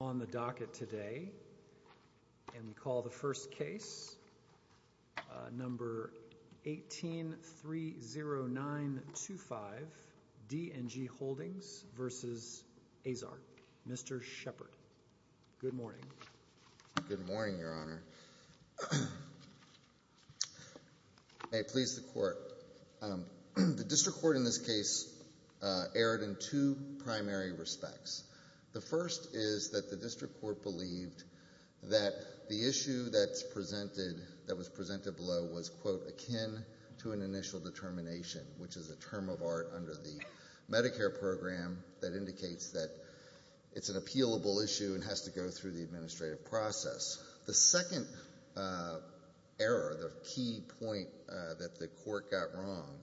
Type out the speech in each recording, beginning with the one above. on the docket today, and we call the first case, number 18-30925, D&G Holdings v. Azar, Mr. Shepard. Good morning. Good morning, Your Honor. May it please the Court, the District Court in this case erred in two primary respects. The first is that the District Court believed that the issue that was presented below was quote, akin to an initial determination, which is a term of art under the Medicare program that indicates that it's an appealable issue and has to go through the administrative process. The second error, the key point that the Court got wrong,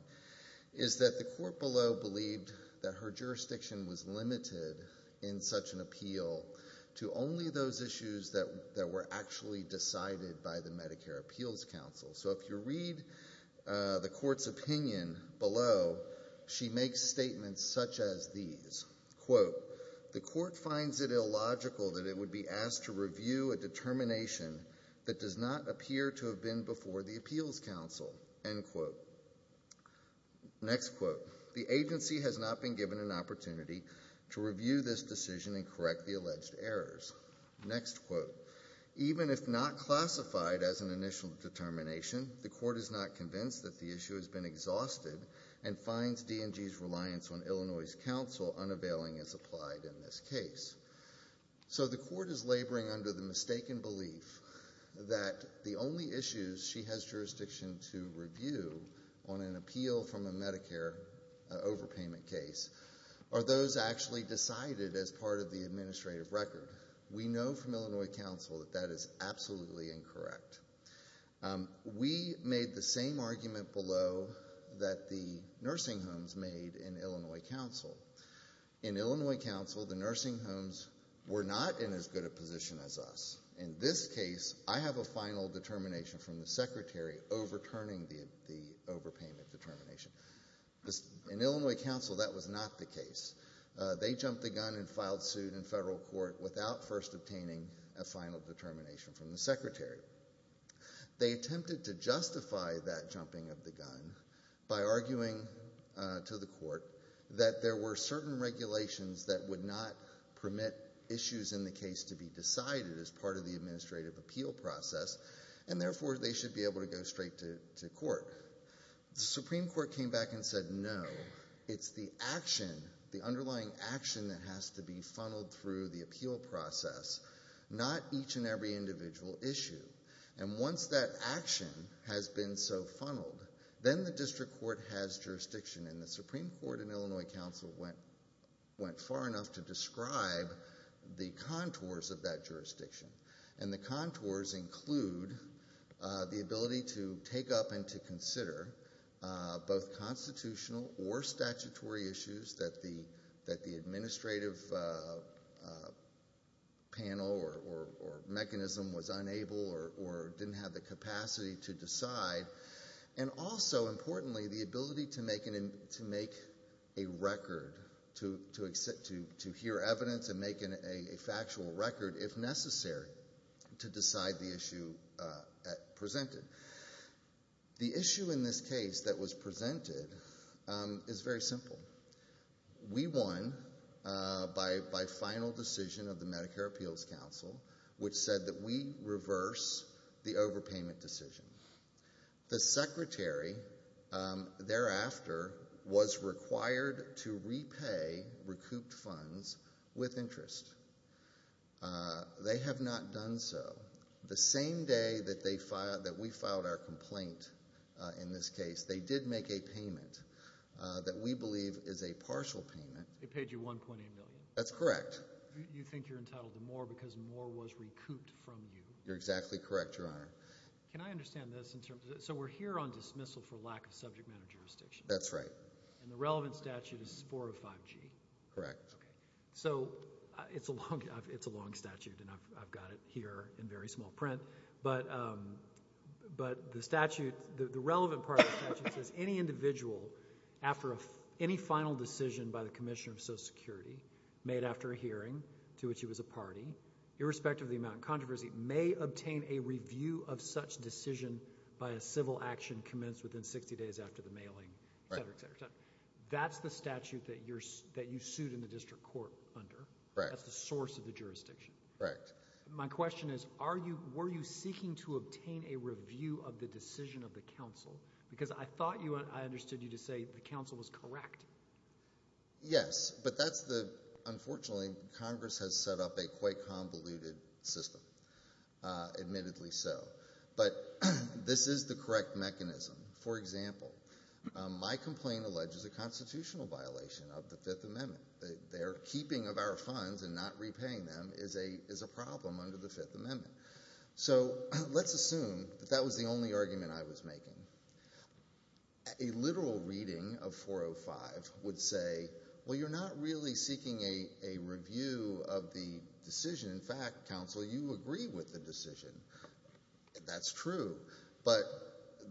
is that the Court below believed that her jurisdiction was limited in such an appeal to only those issues that were actually decided by the Medicare Appeals Council. So if you read the Court's opinion below, she makes statements such as these, quote, the Court finds it illogical that it would be asked to review a determination that does not appear to have been before the Appeals Council, end quote. Next quote, the agency has not been given an opportunity to review this decision and correct the alleged errors, next quote. Even if not classified as an initial determination, the Court is not convinced that the issue has been exhausted and finds D&G's reliance on Illinois' counsel unavailing as applied in this case. So the Court is laboring under the mistaken belief that the only issues she has jurisdiction to review on an appeal from a Medicare overpayment case are those actually decided as part of the administrative record. We know from Illinois counsel that that is absolutely incorrect. We made the same argument below that the nursing homes made in Illinois counsel. In Illinois counsel, the nursing homes were not in as good a position as us. In this case, I have a final determination from the secretary overturning the overpayment determination. In Illinois counsel, that was not the case. They jumped the gun and filed suit in federal court without first obtaining a final determination from the secretary. They attempted to justify that jumping of the gun by arguing to the Court that there were certain regulations that would not permit issues in the case to be decided as part of the administrative appeal process and therefore they should be able to go straight to court. The Supreme Court came back and said no, it's the action, the underlying action that has to be funneled through the appeal process, not each and every individual issue. And once that action has been so funneled, then the district court has jurisdiction and the Supreme Court in Illinois counsel went far enough to describe the contours of that jurisdiction and the contours include the ability to take up and to consider both constitutional or statutory issues that the administrative panel or mechanism was unable or didn't have the capacity to decide and also importantly the ability to make a record, to hear evidence and make a factual record if necessary to decide the issue presented. The issue in this case that was presented is very simple. We won by final decision of the Medicare Appeals Council which said that we reverse the overpayment decision. The secretary thereafter was required to repay recouped funds with interest. They have not done so. The same day that we filed our complaint in this case, they did make a payment that we believe is a partial payment. They paid you $1.8 million? That's correct. You think you're entitled to more because more was recouped from you? You're exactly correct, Your Honor. Can I understand this in terms of, so we're here on dismissal for lack of subject matter jurisdiction? That's right. And the relevant statute is 405G? Correct. Okay. So it's a long statute and I've got it here in very small print, but the relevant part of the statute says, any individual after any final decision by the commissioner of Social Security made after a hearing to which he was a party, irrespective of the amount of controversy, may obtain a review of such decision by a civil action commenced within 60 days after the mailing, et cetera, et cetera, et cetera. That's the statute that you sued in the district court under. That's the source of the jurisdiction. My question is, were you seeking to obtain a review of the decision of the council? Because I thought you, I understood you to say the council was correct. Yes, but that's the, unfortunately, Congress has set up a quite convoluted system, admittedly so. But this is the correct mechanism. For example, my complaint alleges a constitutional violation of the Fifth Amendment. Their keeping of our funds and not repaying them is a problem under the Fifth Amendment. So let's assume that that was the only argument I was making. A literal reading of 405 would say, well, you're not really seeking a review of the decision. In fact, council, you agree with the decision. That's true. But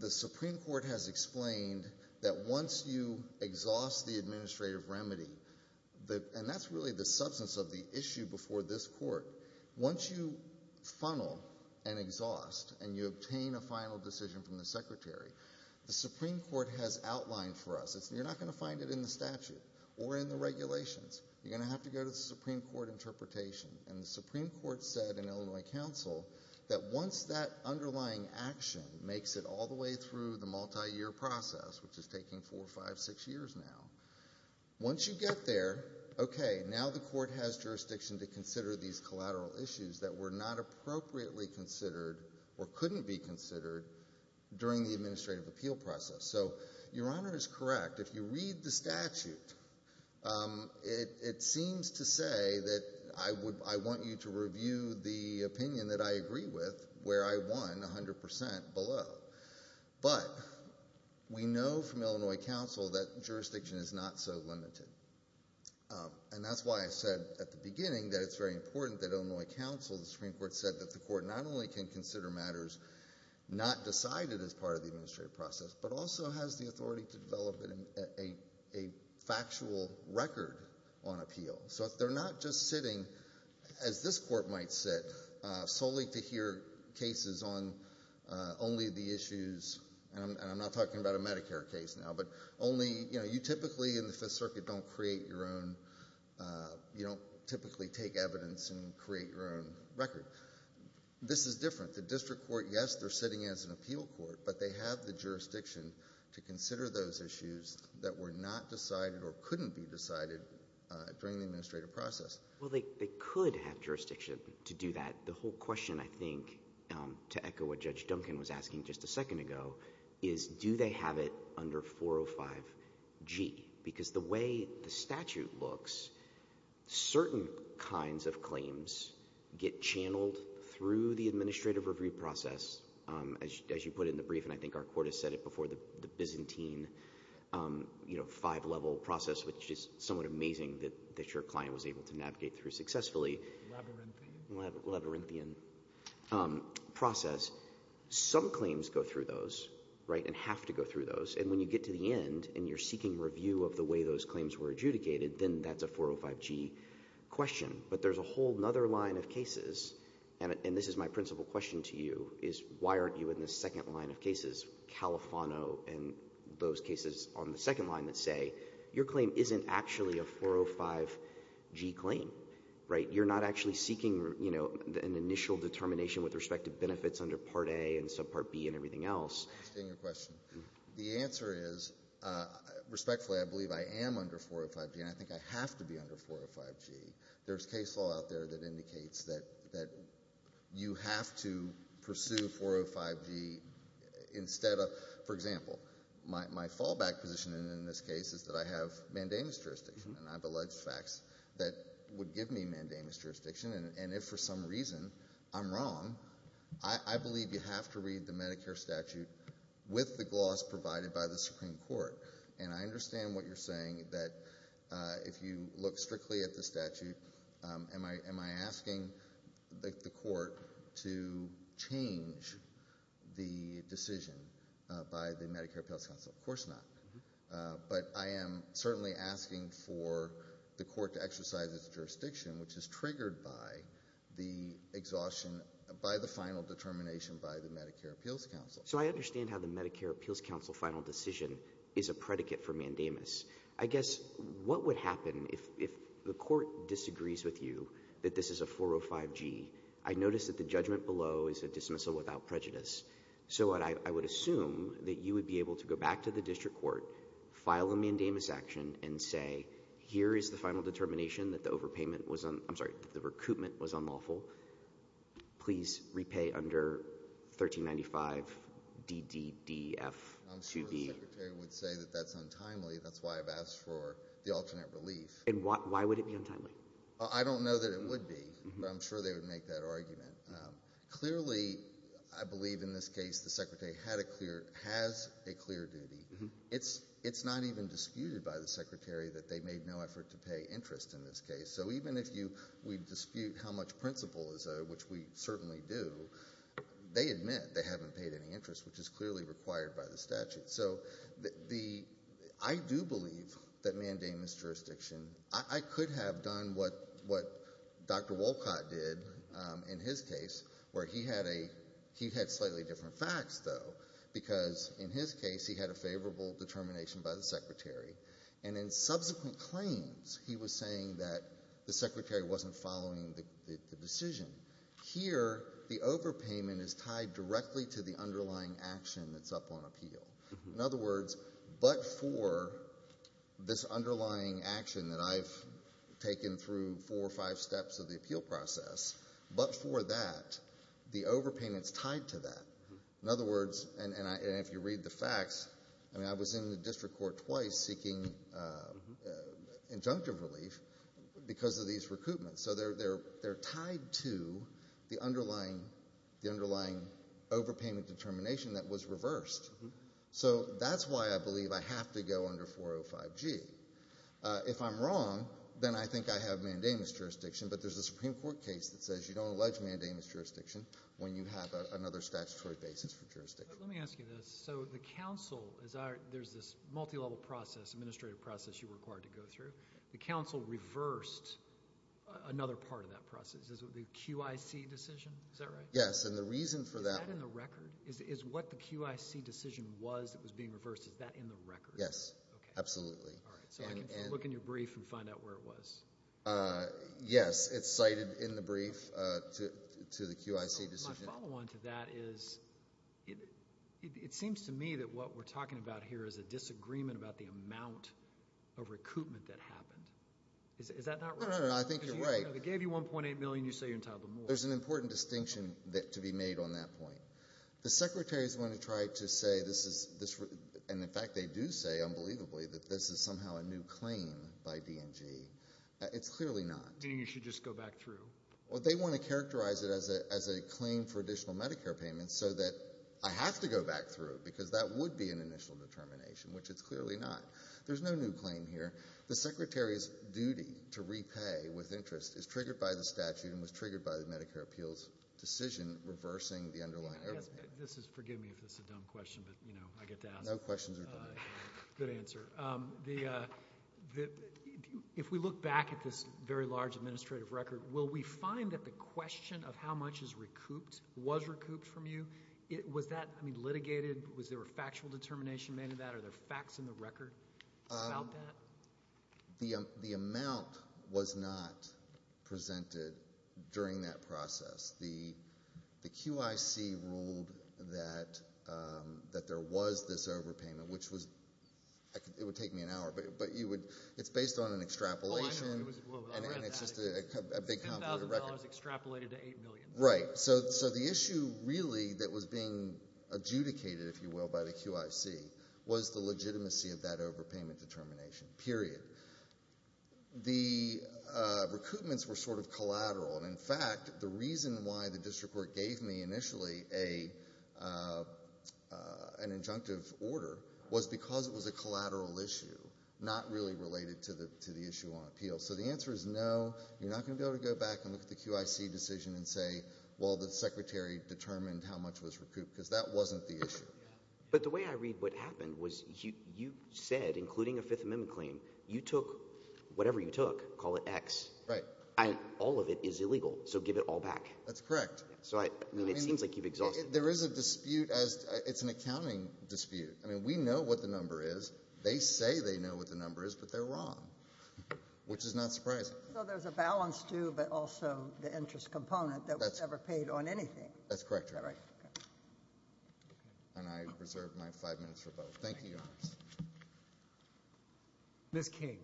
the Supreme Court has explained that once you exhaust the administrative remedy, and that's really the substance of the issue before this court. Once you funnel and exhaust, and you obtain a final decision from the secretary, the Supreme Court has outlined for us, you're not going to find it in the statute or in the regulations. You're going to have to go to the Supreme Court interpretation, and the Supreme Court said in Illinois Council that once that underlying action makes it all the way through the multi-year process, which is taking four, five, six years now, once you get there, okay, now the court has jurisdiction to consider these collateral issues that were not appropriately considered or couldn't be considered during the administrative appeal process. So Your Honor is correct. If you read the statute, it seems to say that I want you to review the opinion that I agree with where I won 100% below. But we know from Illinois Council that jurisdiction is not so limited. And that's why I said at the beginning that it's very important that Illinois Council, the Supreme Court said that the court not only can consider matters not decided as part of the administrative process, but also has the authority to develop a factual record on appeal. So if they're not just sitting, as this court might sit, solely to hear cases on only the issues, and I'm not talking about a Medicare case now, but only, you know, you typically in the Fifth Circuit don't create your own, you don't typically take evidence and create your own record. This is different. The district court, yes, they're sitting as an appeal court, but they have the jurisdiction to consider those issues that were not decided or couldn't be decided during the administrative process. Well, they could have jurisdiction to do that. The whole question, I think, to echo what Judge Duncan was asking just a second ago, is do they have it under 405G? Because the way the statute looks, certain kinds of claims get channeled through the administrative review process, as you put it in the brief, and I think our court has said it before, the Byzantine, you know, five-level process, which is somewhat amazing that your client was able to navigate through successfully. Labyrinthian. Labyrinthian process. Some claims go through those, right, and have to go through those, and when you get to the end and you're seeking review of the way those claims were adjudicated, then that's a 405G question. But there's a whole other line of cases, and this is my principal question to you, is why aren't you in the second line of cases, Califano and those cases on the second line that say your claim isn't actually a 405G claim, right? You're not actually seeking, you know, an initial determination with respect to benefits under Part A and Subpart B and everything else. I understand your question. The answer is, respectfully, I believe I am under 405G, and I think I have to be under 405G. There's case law out there that indicates that you have to pursue 405G instead of, for example, my fallback position in this case is that I have mandamus jurisdiction, and I have alleged facts that would give me mandamus jurisdiction, and if for some reason I'm wrong, I believe you have to read the Medicare statute with the gloss provided by the Supreme Court. And I understand what you're saying, that if you look strictly at the statute, am I asking the court to change the decision by the Medicare Appeals Council? Of course not. But I am certainly asking for the court to exercise its jurisdiction, which is triggered by the exhaustion, by the final determination by the Medicare Appeals Council. So I understand how the Medicare Appeals Council final decision is a predicate for mandamus. I guess, what would happen if the court disagrees with you that this is a 405G? I notice that the judgment below is a dismissal without prejudice. So I would assume that you would be able to go back to the district court, file a mandamus action, and say, here is the final determination that the overpayment was, I'm sorry, that the recoupment was unlawful. Please repay under 1395DDDF2B. I'm sure the secretary would say that that's untimely, that's why I've asked for the alternate relief. And why would it be untimely? I don't know that it would be, but I'm sure they would make that argument. Clearly, I believe in this case, the secretary has a clear duty. It's not even disputed by the secretary that they made no effort to pay interest in this case. So even if we dispute how much principal is owed, which we certainly do, they admit they haven't paid any interest, which is clearly required by the statute. So I do believe that mandamus jurisdiction, I could have done what Dr. Wolcott did in his case, where he had slightly different facts, though, because in his case, he had a favorable determination by the secretary. And in subsequent claims, he was saying that the secretary wasn't following the decision. Here, the overpayment is tied directly to the underlying action that's up on appeal. In other words, but for this underlying action that I've taken through four or five steps of the appeal process, but for that, the overpayment's tied to that. In other words, and if you read the facts, I mean, I was in the district court twice seeking injunctive relief because of these recoupments. So they're tied to the underlying overpayment determination that was reversed. So that's why I believe I have to go under 405G. If I'm wrong, then I think I have mandamus jurisdiction. But there's a Supreme Court case that says you don't allege mandamus jurisdiction when you have another statutory basis for jurisdiction. Let me ask you this. So the council, there's this multi-level process, administrative process you're required to go through. The council reversed another part of that process, the QIC decision, is that right? Yes, and the reason for that- Is that in the record? Is what the QIC decision was that was being reversed, is that in the record? Yes, absolutely. All right, so I can look in your brief and find out where it was. Yes, it's cited in the brief to the QIC decision. My follow on to that is, it seems to me that what we're talking about here is a disagreement about the amount of recoupment that happened. Is that not right? No, no, no, I think you're right. They gave you 1.8 million, you say you're entitled to more. There's an important distinction to be made on that point. The Secretary's going to try to say this is, and in fact they do say, unbelievably, that this is somehow a new claim by DNG. It's clearly not. Then you should just go back through. Well, they want to characterize it as a claim for additional Medicare payments so that I have to go back through because that would be an initial determination, which it's clearly not. There's no new claim here. The Secretary's duty to repay with interest is triggered by the statute and was triggered by the Medicare appeals decision reversing the underlying error. This is, forgive me if this is a dumb question, but I get to ask. No questions are dumb. Good answer. If we look back at this very large administrative record, will we find that the question of how much is recouped, was recouped from you? Was that, I mean, litigated? Was there a factual determination made of that? Are there facts in the record about that? The amount was not presented during that process. The QIC ruled that there was this overpayment, which was, it would take me an hour, but you would, it's based on an extrapolation and it's just a big, complicated record. $10,000 extrapolated to $8 million. Right, so the issue really that was being adjudicated, if you will, by the QIC was the legitimacy of that overpayment determination, period. The recoupments were sort of collateral, and in fact, the reason why the district court gave me initially an injunctive order was because it was a collateral issue, not really related to the issue on appeal. So the answer is no, you're not going to be able to go back and look at the QIC decision and say, well, the secretary determined how much was recouped, because that wasn't the issue. But the way I read what happened was you said, including a Fifth Amendment claim, you took whatever you took, call it X. Right. All of it is illegal, so give it all back. That's correct. So I mean, it seems like you've exhausted. There is a dispute as, it's an accounting dispute. I mean, we know what the number is. They say they know what the number is, but they're wrong, which is not surprising. So there's a balance too, but also the interest component that was never paid on anything. That's correct, Your Honor. All right. And I reserve my five minutes for both. Thank you, Your Honor. Ms. King.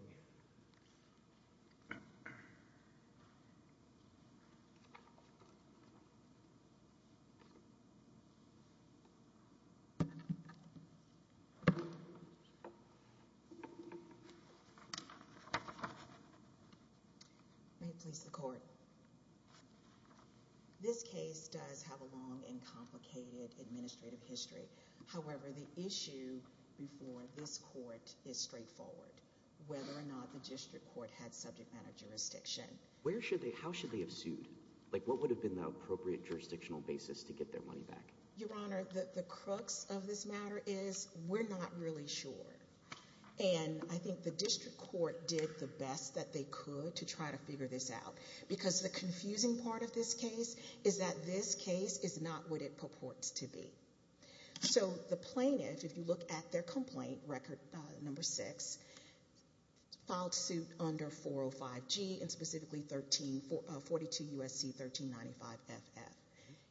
May it please the court. So this case does have a long and complicated administrative history. However, the issue before this court is straightforward, whether or not the district court had subject matter jurisdiction. Where should they, how should they have sued? Like, what would have been the appropriate jurisdictional basis to get their money back? Your Honor, the crux of this matter is we're not really sure. And I think the district court did the best that they could to try to figure this out. Because the confusing part of this case is that this case is not what it purports to be. So the plaintiff, if you look at their complaint, record number six, filed suit under 405G, and specifically 42 U.S.C. 1395FF,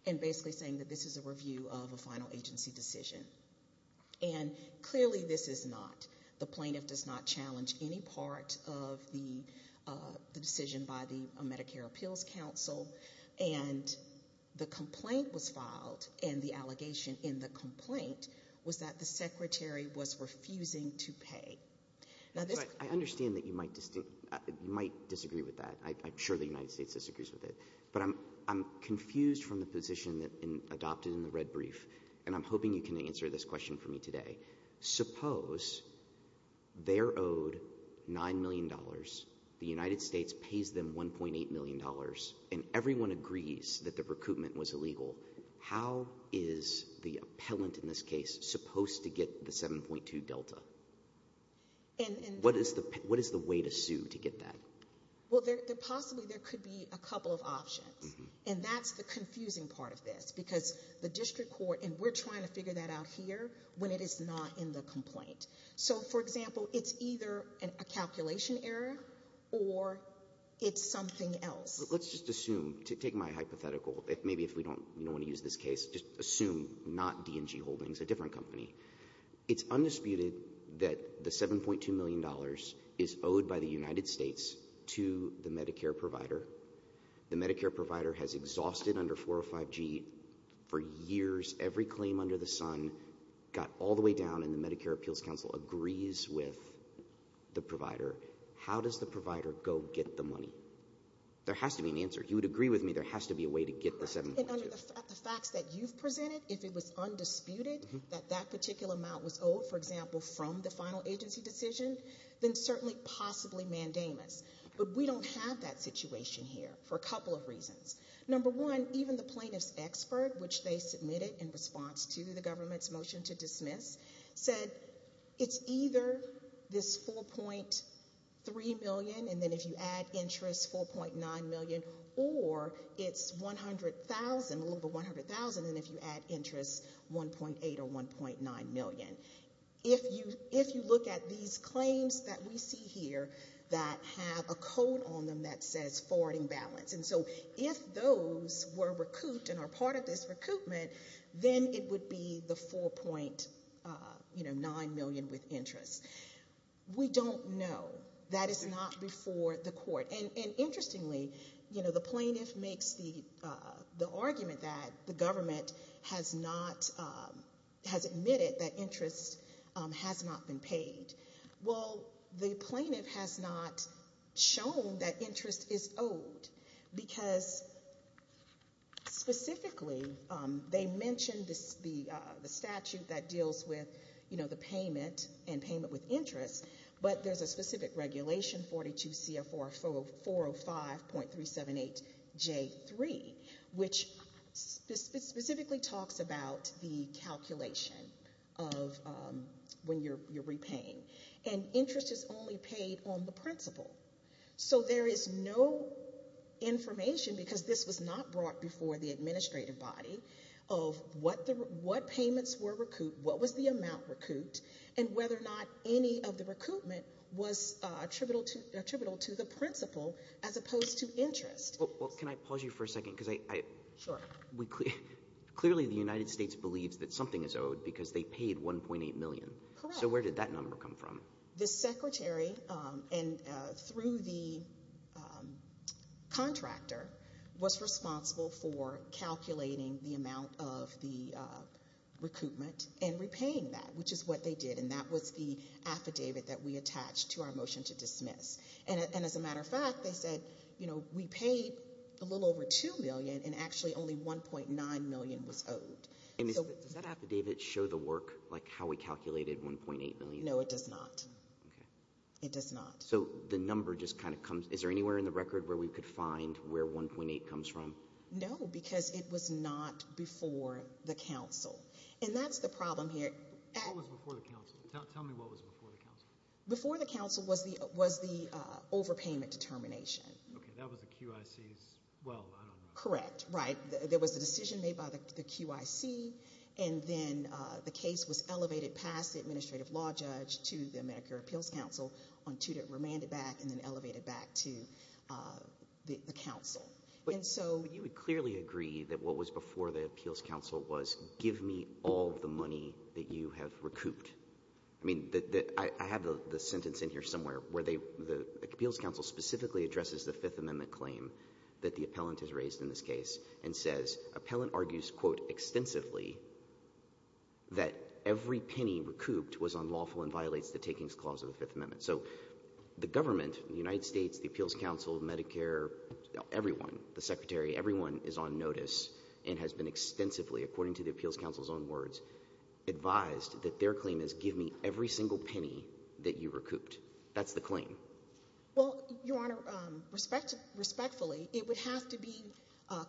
and basically saying that this is a review of a final agency decision. And clearly this is not, the plaintiff does not challenge any part of the decision by the Medicare Appeals Council, and the complaint was filed, and the allegation in the complaint was that the secretary was refusing to pay. But I understand that you might disagree with that, I'm sure the United States disagrees with it. But I'm confused from the position adopted in the red brief, and I'm hoping you can answer this question for me today. Suppose they're owed $9 million, the United States pays them $1.8 million, and everyone agrees that the recoupment was illegal. How is the appellant in this case supposed to get the 7.2 delta? What is the way to sue to get that? Well, possibly there could be a couple of options. And that's the confusing part of this, because the district court, and we're trying to figure that out here, when it is not in the complaint. So, for example, it's either a calculation error, or it's something else. Let's just assume, take my hypothetical, maybe if we don't want to use this case, just assume not D&G Holdings, a different company. It's undisputed that the $7.2 million is owed by the United States to the Medicare provider. The Medicare provider has exhausted under 405G for years. Every claim under the sun got all the way down, and the Medicare Appeals Council agrees with the provider. How does the provider go get the money? There has to be an answer. If you would agree with me, there has to be a way to get the 7.2. And under the facts that you've presented, if it was undisputed that that particular amount was owed, for example, from the final agency decision, then certainly, possibly mandamus. But we don't have that situation here, for a couple of reasons. Number one, even the plaintiff's expert, which they submitted in response to the government's motion to dismiss, said it's either this $4.3 million, and then if you add interest, $4.9 million, or it's $100,000, a little over $100,000, and if you add interest, $1.8 or $1.9 million. If you look at these claims that we see here that have a code on them that says forwarding balance, and so if those were recouped and are part of this recoupment, then it would be the $4.9 million with interest. We don't know. That is not before the court. And interestingly, you know, the plaintiff makes the argument that the government has not, has admitted that interest has not been paid. Well, the plaintiff has not shown that interest is owed, because specifically, they mentioned the statute that deals with, you know, the payment and payment with interest, but there's a specific regulation, 42 CFR 405.378J3, which specifically talks about the calculation of when you're repaying. And interest is only paid on the principal. So there is no information, because this was not brought before the administrative body, of what payments were recouped, what was the amount recouped, and whether or not any of the recoupment was attributable to the principal as opposed to interest. Well, can I pause you for a second? Because I, we clearly, clearly the United States believes that something is owed, because they paid $1.8 million. Correct. So where did that number come from? The secretary, and through the contractor, was responsible for calculating the amount of the recoupment and repaying that, which is what they did. And that was the affidavit that we attached to our motion to dismiss. And as a matter of fact, they said, you know, we paid a little over $2 million, and actually only $1.9 million was owed. And does that affidavit show the work, like how we calculated $1.8 million? No, it does not. Okay. It does not. So the number just kind of comes, is there anywhere in the record where we could find where $1.8 comes from? No, because it was not before the council. And that's the problem here. What was before the council? Tell me what was before the council. Before the council was the overpayment determination. Okay. That was the QIC's, well, I don't know. Correct. Right. There was a decision made by the QIC, and then the case was elevated past the administrative law judge to the Medicare Appeals Council, remanded back, and then elevated back to the council. But you would clearly agree that what was before the appeals council was, give me all the money that you have recouped. I mean, I have the sentence in here somewhere where the appeals council specifically addresses the Fifth Amendment claim that the appellant has raised in this case and says, appellant argues, quote, extensively, that every penny recouped was unlawful and violates the takings clause of the Fifth Amendment. So the government, the United States, the appeals council, Medicare, everyone, the secretary, everyone is on notice and has been extensively, according to the appeals council's own words, advised that their claim is give me every single penny that you recouped. That's the claim. Well, your honor, respectfully, it would have to be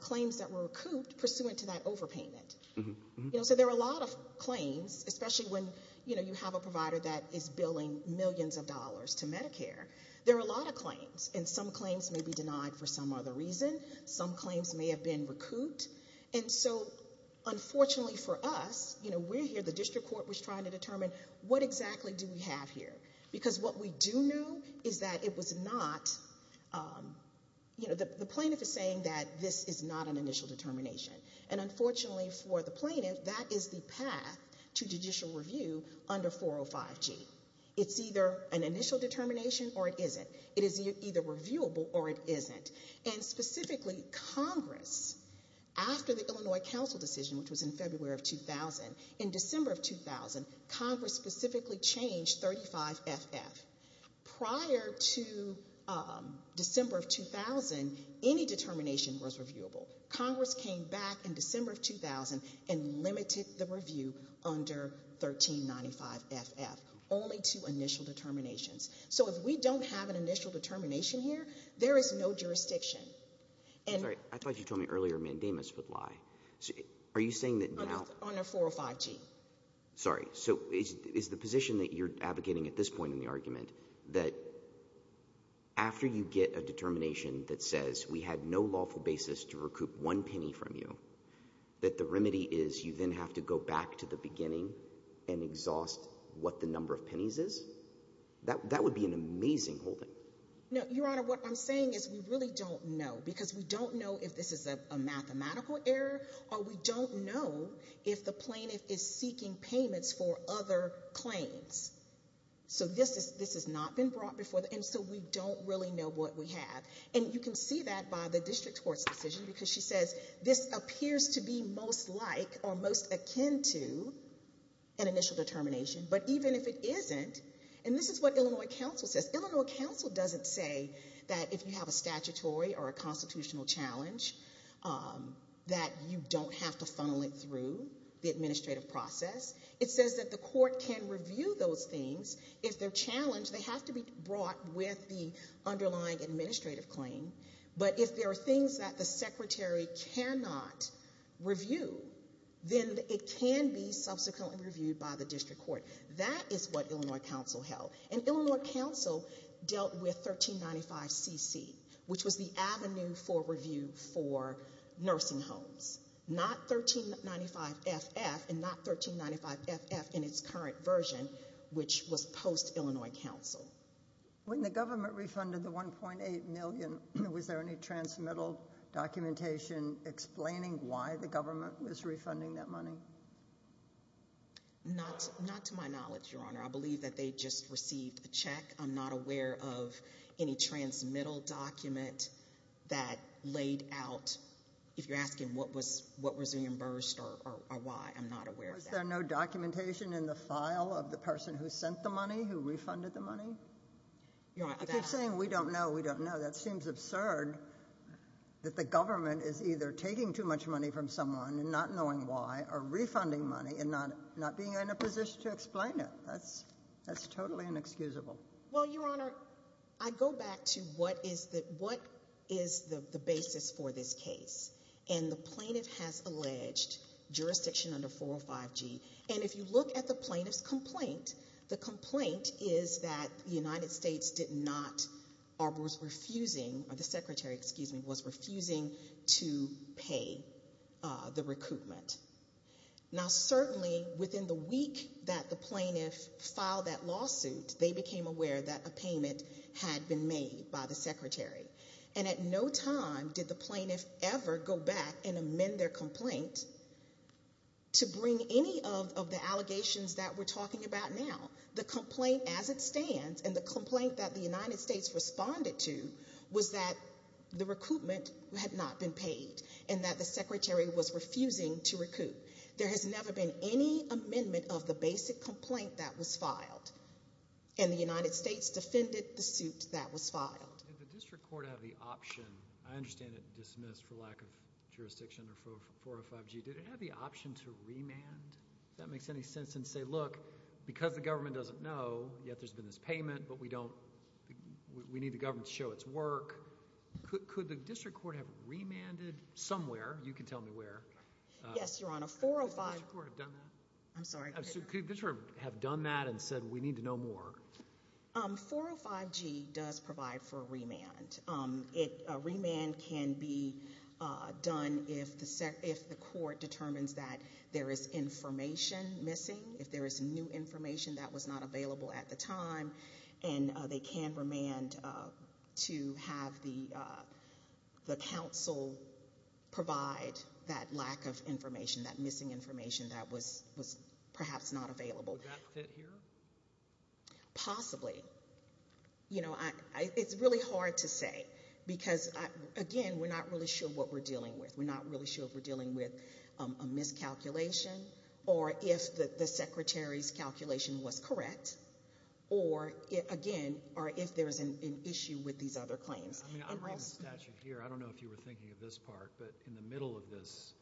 claims that were recouped pursuant to that overpayment. You know, so there are a lot of claims, especially when, you know, you have a provider that is billing millions of dollars to Medicare. There are a lot of claims, and some claims may be denied for some other reason. Some claims may have been recouped. And so, unfortunately for us, you know, we're here, the district court was trying to determine, what exactly do we have here? Because what we do know is that it was not, you know, the plaintiff is saying that this is not an initial determination. And unfortunately for the plaintiff, that is the path to judicial review under 405G. It's either an initial determination or it isn't. It is either reviewable or it isn't. And specifically, Congress, after the Illinois Council decision, which was in February of 2000, in December of 2000, Congress specifically changed 35FF. Prior to December of 2000, any determination was reviewable. Congress came back in December of 2000 and limited the review under 1395FF, only to initial determinations. So if we don't have an initial determination here, there is no jurisdiction. And- I thought you told me earlier mandamus would lie. Are you saying that now- Under 405G. Sorry. So is the position that you're advocating at this point in the argument, that after you get a determination that says we had no lawful basis to recoup one penny from you, that the remedy is you then have to go back to the beginning and exhaust what the number of pennies is? That would be an amazing whole thing. No, Your Honor, what I'm saying is we really don't know, because we don't know if this is a mathematical error or we don't know if the plaintiff is seeking payments for other claims. So this is- this has not been brought before the- and so we don't really know what we have. And you can see that by the district court's decision, because she says this appears to be most like or most akin to an initial determination. But even if it isn't, and this is what Illinois Council says, Illinois Council doesn't say that if you have a statutory or a constitutional challenge, that you don't have to funnel it through the administrative process. It says that the court can review those things. If they're challenged, they have to be brought with the underlying administrative claim. But if there are things that the secretary cannot review, then it can be subsequently reviewed by the district court. That is what Illinois Council held. And Illinois Council dealt with 1395 CC, which was the avenue for review for nursing homes, not 1395 FF and not 1395 FF in its current version, which was post-Illinois Council. When the government refunded the $1.8 million, was there any transmittal documentation explaining why the government was refunding that money? Not to my knowledge, Your Honor. I believe that they just received the check. I'm not aware of any transmittal document that laid out, if you're asking what was reimbursed or why, I'm not aware of that. Was there no documentation in the file of the person who sent the money, who refunded the money? I keep saying we don't know, we don't know. That seems absurd that the government is either taking too much money from someone and not knowing why or refunding money and not being in a position to explain it. That's totally inexcusable. Well, Your Honor, I go back to what is the basis for this case. And the plaintiff has alleged jurisdiction under 405G. And if you look at the plaintiff's complaint, the complaint is that the United States did not, or was refusing, or the Secretary, excuse me, was refusing to pay the recoupment. Now, certainly within the week that the plaintiff filed that lawsuit, they became aware that a payment had been made by the Secretary. And at no time did the plaintiff ever go back and amend their complaint to bring any of the allegations that we're talking about now. The complaint as it stands, and the complaint that the United States responded to, was that the recoupment had not been paid and that the Secretary was refusing to recoup. There has never been any amendment of the basic complaint that was filed. And the United States defended the suit that was filed. Did the district court have the option, I understand it dismissed for lack of jurisdiction under 405G, did it have the option to remand, if that makes any sense? And say, look, because the government doesn't know, yet there's been this payment, but we need the government to show its work. Could the district court have remanded somewhere? You can tell me where. Yes, Your Honor. 405. Could the district court have done that? I'm sorry. Could the district court have done that and said, we need to know more? 405G does provide for a remand. A remand can be done if the court determines that there is information missing, if there is new information that was not available at the time. And they can remand to have the council provide that lack of information, that missing information that was perhaps not available. Would that fit here? Possibly. You know, it's really hard to say. Because, again, we're not really sure what we're dealing with. We're not really sure if we're dealing with a miscalculation, or if the secretary's calculation was correct. Or, again, or if there is an issue with these other claims. I mean, I read the statute here. I don't know if you were thinking of this part. But in the middle of this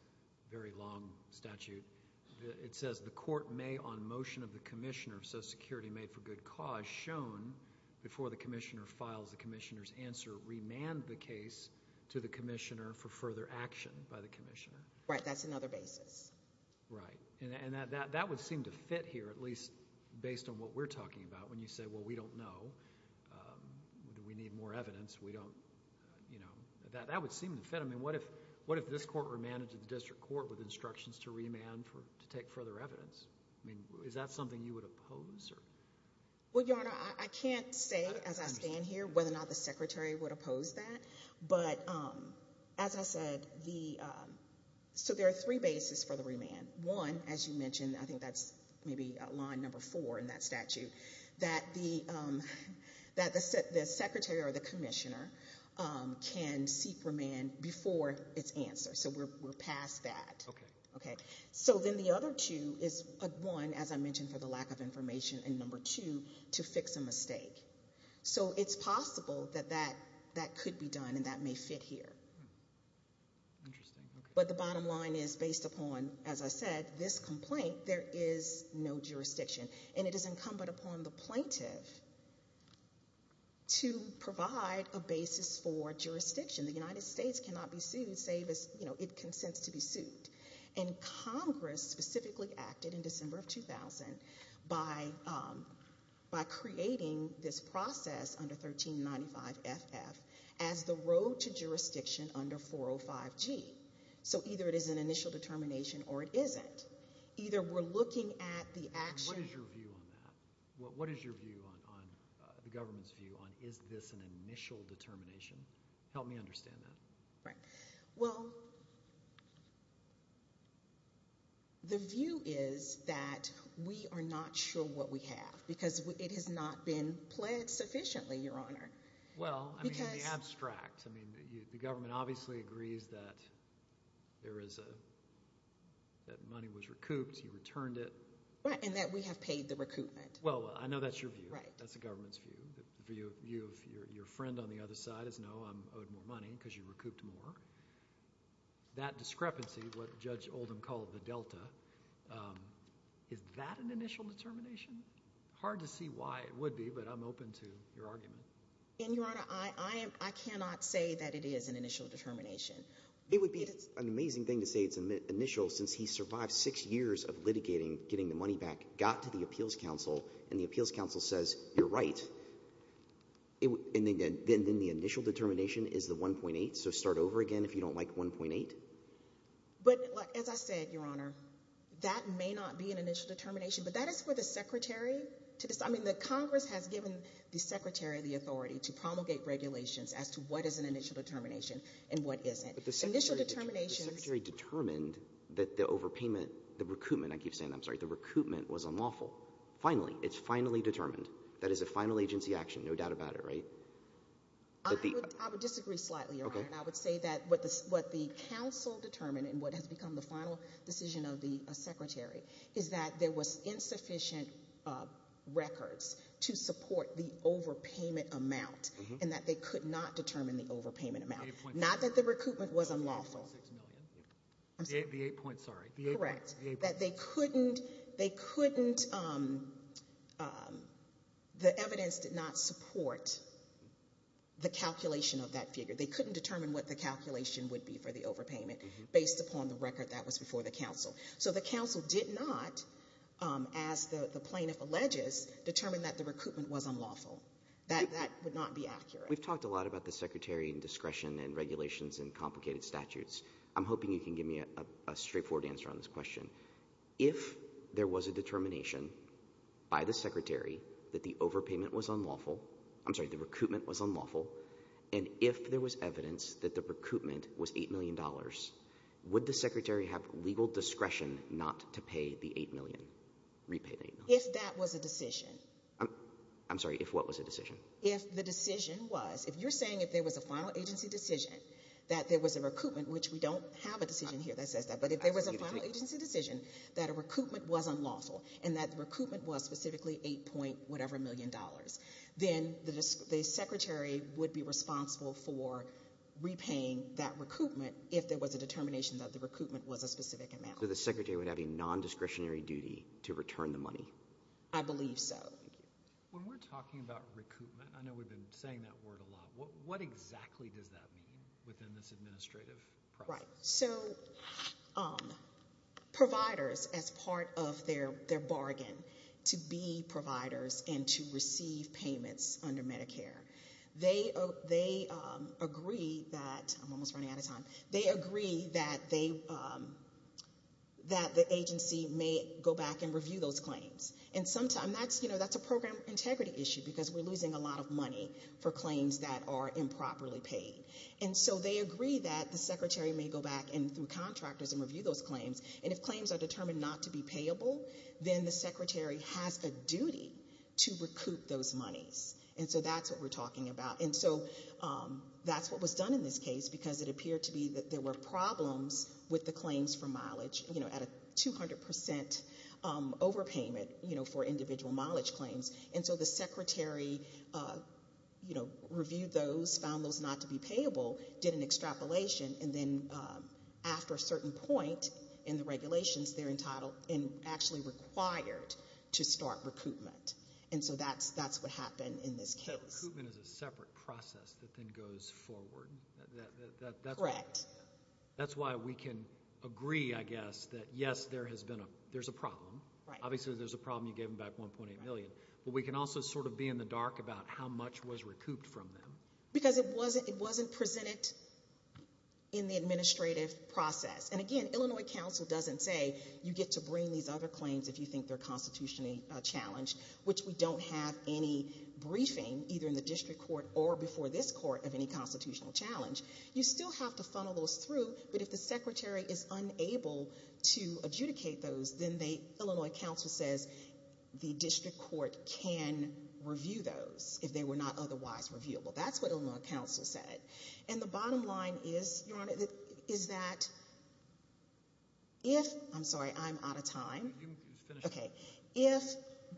very long statute, it says the court may on motion of the commissioner of Social Security be made for good cause, shown before the commissioner files the commissioner's answer, remand the case to the commissioner for further action by the commissioner. Right, that's another basis. Right. And that would seem to fit here, at least based on what we're talking about, when you say, well, we don't know. We need more evidence. That would seem to fit. I mean, what if this court remanded to the district court with instructions to remand to take further evidence? I mean, is that something you would oppose? Well, Your Honor, I can't say as I stand here whether or not the secretary would oppose that. But as I said, so there are three bases for the remand. One, as you mentioned, I think that's maybe line number four in that statute, that the secretary or the commissioner can seek remand before its answer. So we're past that. OK. OK. So then the other two is one, as I mentioned, for the lack of information, and number two, to fix a mistake. So it's possible that that could be done, and that may fit here. Interesting. But the bottom line is, based upon, as I said, this complaint, there is no jurisdiction. And it is incumbent upon the plaintiff to provide a basis for jurisdiction. The United States cannot be sued, save as it consents to be sued. And Congress specifically acted in December of 2000 by creating this process under 1395 FF as the road to jurisdiction under 405 G. So either it is an initial determination or it isn't. Either we're looking at the action. What is your view on that? What is your view on, the government's view on, is this an initial determination? Help me understand that. Right. Well, the view is that we are not sure what we have. Because it has not been pledged sufficiently, Your Honor. Well, I mean, in the abstract. I mean, the government obviously agrees that there is a, that money was recouped. You returned it. Right. And that we have paid the recoupment. Well, I know that's your view. Right. That's the government's view. The view of your friend on the other side is, no, I'm owed more money because you recouped more. That discrepancy, what Judge Oldham called the delta, is that an initial determination? Hard to see why it would be, but I'm open to your argument. And, Your Honor, I cannot say that it is an initial determination. It would be an amazing thing to say it's initial since he survived six years of litigating, getting the money back, got to the appeals council, and the appeals council says, you're right, and then the initial determination is the 1.8. So start over again if you don't like 1.8. But, as I said, Your Honor, that may not be an initial determination, but that is for the secretary to, I mean, the Congress has given the secretary of the authority to promulgate regulations as to what is an initial determination and what isn't. The secretary determined that the overpayment, the recoupment, I keep saying that, I'm sorry, the recoupment was unlawful. Finally, it's finally determined. That is a final agency action, no doubt about it, right? I would disagree slightly, Your Honor. I would say that what the council determined and what has become the final decision of the secretary is that there was insufficient records to support the overpayment amount and that they could not determine the overpayment amount. Not that the recoupment was unlawful. The 8 point, sorry. Correct. That they couldn't, they couldn't, the evidence did not support the calculation of that figure. They couldn't determine what the calculation would be for the overpayment based upon the record that was before the council. So the council did not, as the plaintiff alleges, determine that the recoupment was unlawful. That would not be accurate. We've talked a lot about the secretary and discretion and regulations and complicated statutes. I'm hoping you can give me a straightforward answer on this question. If there was a determination by the secretary that the overpayment was unlawful, I'm sorry, the recoupment was unlawful, and if there was evidence that the recoupment was $8 million, would the secretary have legal discretion not to pay the $8 million, repay the $8 million? If that was a decision. I'm sorry, if what was a decision? If the decision was, if you're saying if there was a final agency decision that there was a recoupment, which we don't have a decision here that says that, but if there was a final agency decision that a recoupment was unlawful and that recoupment was specifically $8 point whatever million dollars, then the secretary would be responsible for repaying that recoupment if there was a determination that the recoupment was a specific amount. So the secretary would have a nondiscretionary duty to return the money? I believe so. Thank you. When we're talking about recoupment, I know we've been saying that word a lot, what exactly does that mean within this administrative process? Right. So providers, as part of their bargain to be providers and to receive payments under Medicare, they agree that, I'm almost running out of time, they agree that the agency may go back and review those claims. And sometimes that's a program integrity issue because we're losing a lot of money for claims that are improperly paid. And so they agree that the secretary may go back and through contractors and review those claims and if claims are determined not to be payable, then the secretary has a duty to recoup those monies. And so that's what we're talking about. And so that's what was done in this case because it appeared to be that there were problems with the claims for mileage at a 200% overpayment for individual mileage claims. And so the secretary reviewed those, found those not to be payable, did an extrapolation, and then after a certain point in the regulations, they're entitled and actually required to start recoupment. And so that's what happened in this case. So recoupment is a separate process that then goes forward. Correct. That's why we can agree, I guess, that yes, there's a problem. Obviously, there's a problem. You gave them back $1.8 million. But we can also sort of be in the dark about how much was recouped from them. Because it wasn't presented in the administrative process. And again, Illinois Council doesn't say you get to bring these other claims if you think they're constitutionally challenged, which we don't have any briefing either in the district court or before this court of any constitutional challenge. You still have to funnel those through. But if the secretary is unable to adjudicate those, then Illinois Council says the district court can review those if they were not otherwise reviewable. That's what Illinois Council said. And the bottom line is, Your Honor, is that if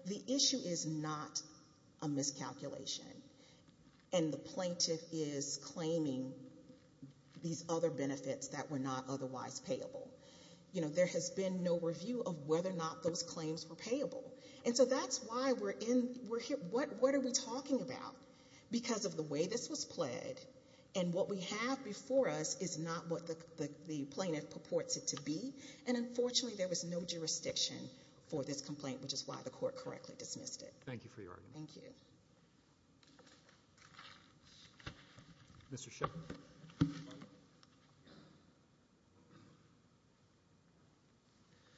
the issue is not a miscalculation and the plaintiff is claiming these other benefits that were not otherwise payable, there has been no review of whether or not those claims were payable. And so that's why we're here. What are we talking about? Because of the way this was pled and what we have before us is not what the plaintiff purports it to be. And unfortunately, there was no jurisdiction for this complaint, which is why the court correctly dismissed it. Thank you for your argument. Thank you. Mr. Shepard.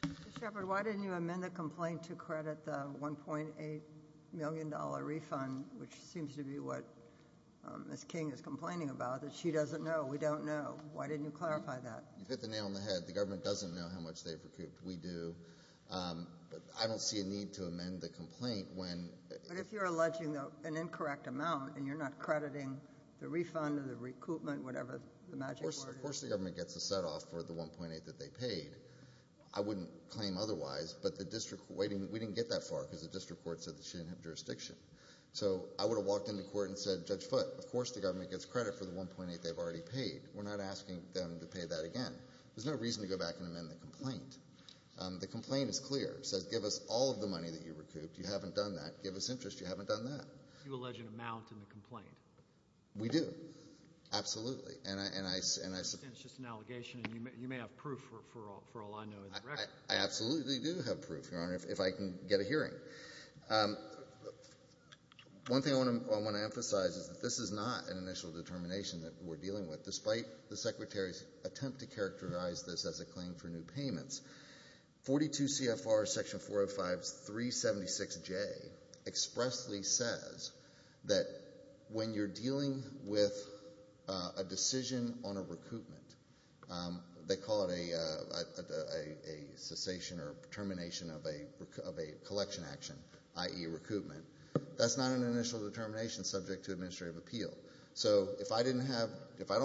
Mr. Shepard, why didn't you amend the complaint to credit the $1.8 million refund, which seems to be what Ms. King is complaining about, that she doesn't know, we don't know? Why didn't you clarify that? You hit the nail on the head. The government doesn't know how much they've recouped. We do. But I don't see a need to amend the complaint when... But if you're alleging an incorrect amount and you're not crediting the refund or the recoupment, whatever the magic word is... Of course the government gets a set-off for the $1.8 that they paid. I wouldn't claim otherwise, but we didn't get that far because the district court said that she didn't have jurisdiction. So I would have walked into court and said, Judge Foote, of course the government gets credit for the $1.8 they've already paid. We're not asking them to pay that again. There's no reason to go back and amend the complaint. The complaint is clear. It says, give us all of the money that you recouped. You haven't done that. Give us interest. You haven't done that. You allege an amount in the complaint? We do. Absolutely. And I... And it's just an allegation and you may have proof for all I know in the record. I absolutely do have proof, Your Honor, if I can get a hearing. One thing I want to emphasize is that this is not an initial determination that we're dealing with despite the Secretary's attempt to characterize this as a claim for new payments. 42 CFR Section 405-376J expressly says that when you're dealing with a decision on a recoupment, they call it a cessation or termination of a collection action, i.e. recoupment. That's not an initial determination subject to administrative appeal. So if I don't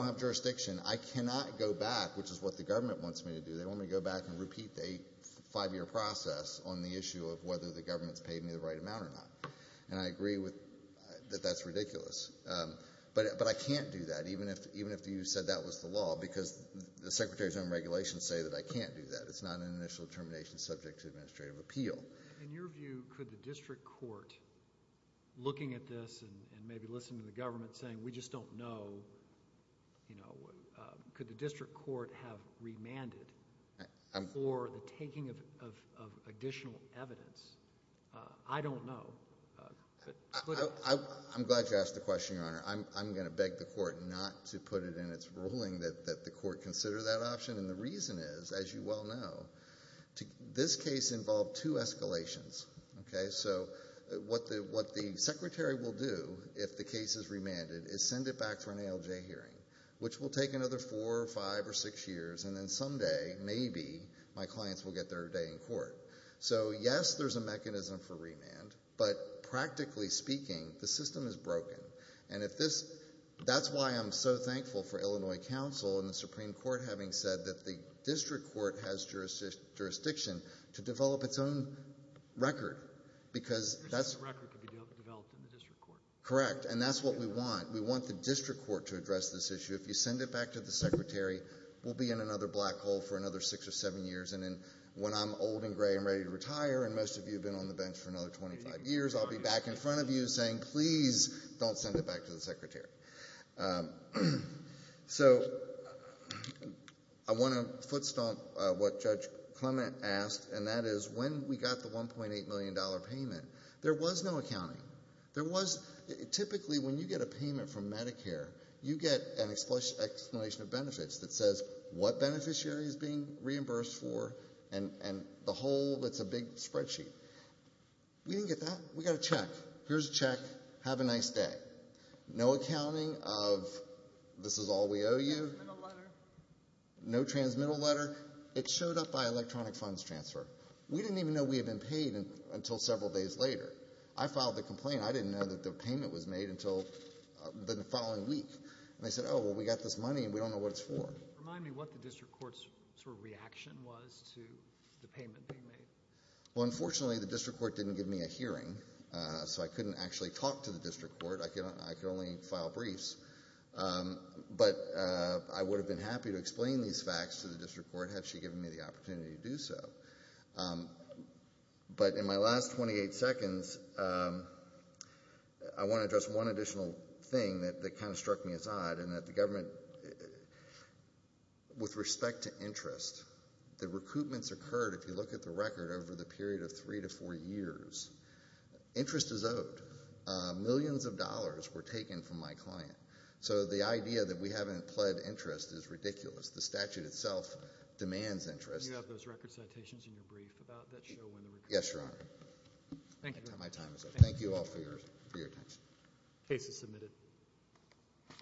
have jurisdiction, I cannot go back, which is what the government wants me to do. They want me to go back and repeat the five-year process on the issue of whether the government's paid me the right amount or not. And I agree that that's ridiculous. But I can't do that, even if you said that was the law, because the Secretary's own regulations say that I can't do that. It's not an initial determination subject to administrative appeal. In your view, could the district court, looking at this and maybe listening to the government, saying, we just don't know, you know, could the district court have remanded for the taking of additional evidence? I don't know. I'm glad you asked the question, Your Honor. I'm going to beg the court not to put it in its ruling that the court consider that option. And the reason is, as you well know, this case involved two escalations. Okay? So what the Secretary will do if the case is remanded is send it back for an ALJ hearing, which will take another four or five or six years, and then someday, maybe, my clients will get their day in court. So, yes, there's a mechanism for remand, but practically speaking, the system is broken. And if this, that's why I'm so thankful for Illinois Council and the Supreme Court having said that the district court has jurisdiction to develop its own record, because that's... There's no record to be developed in the district court. Correct. And that's what we want. We want the district court to address this issue. If you send it back to the Secretary, we'll be in another black hole for another six or seven years. And when I'm old and gray and ready to retire and most of you have been on the bench for another 25 years, I'll be back in front of you saying, please, don't send it back to the Secretary. So I want to foot stomp what Judge Clement asked, and that is, when we got the $1.8 million payment, there was no accounting. There was... Typically, when you get a payment from Medicare, you get an explanation of benefits that says what beneficiary is being reimbursed for and the whole... It's a big spreadsheet. We didn't get that. We got a check. Here's a check. Have a nice day. No accounting of this is all we owe you. No transmittal letter. It showed up by electronic funds transfer. We didn't even know we had been paid until several days later. I filed the complaint. I didn't know that the payment was made until the following week. And they said, oh, well, we got this money and we don't know what it's for. Remind me what the district court's sort of reaction was to the payment being made. Well, unfortunately, the district court didn't give me a hearing, so I couldn't actually talk to the district court. I could only file briefs. But I would have been happy to explain these facts to the district court had she given me the opportunity to do so. But in my last 28 seconds, I want to address one additional thing that kind of struck me as odd in that the government, with respect to interest, the recoupments occurred, if you look at the record, over the period of three to four years. Interest is owed. Millions of dollars were taken from my client. So the idea that we haven't pled interest is ridiculous. The statute itself demands interest. You have those record citations in your brief about that show when the recoupments occurred? Yes, Your Honor. Thank you. My time is up. Thank you all for your attention. Case is submitted.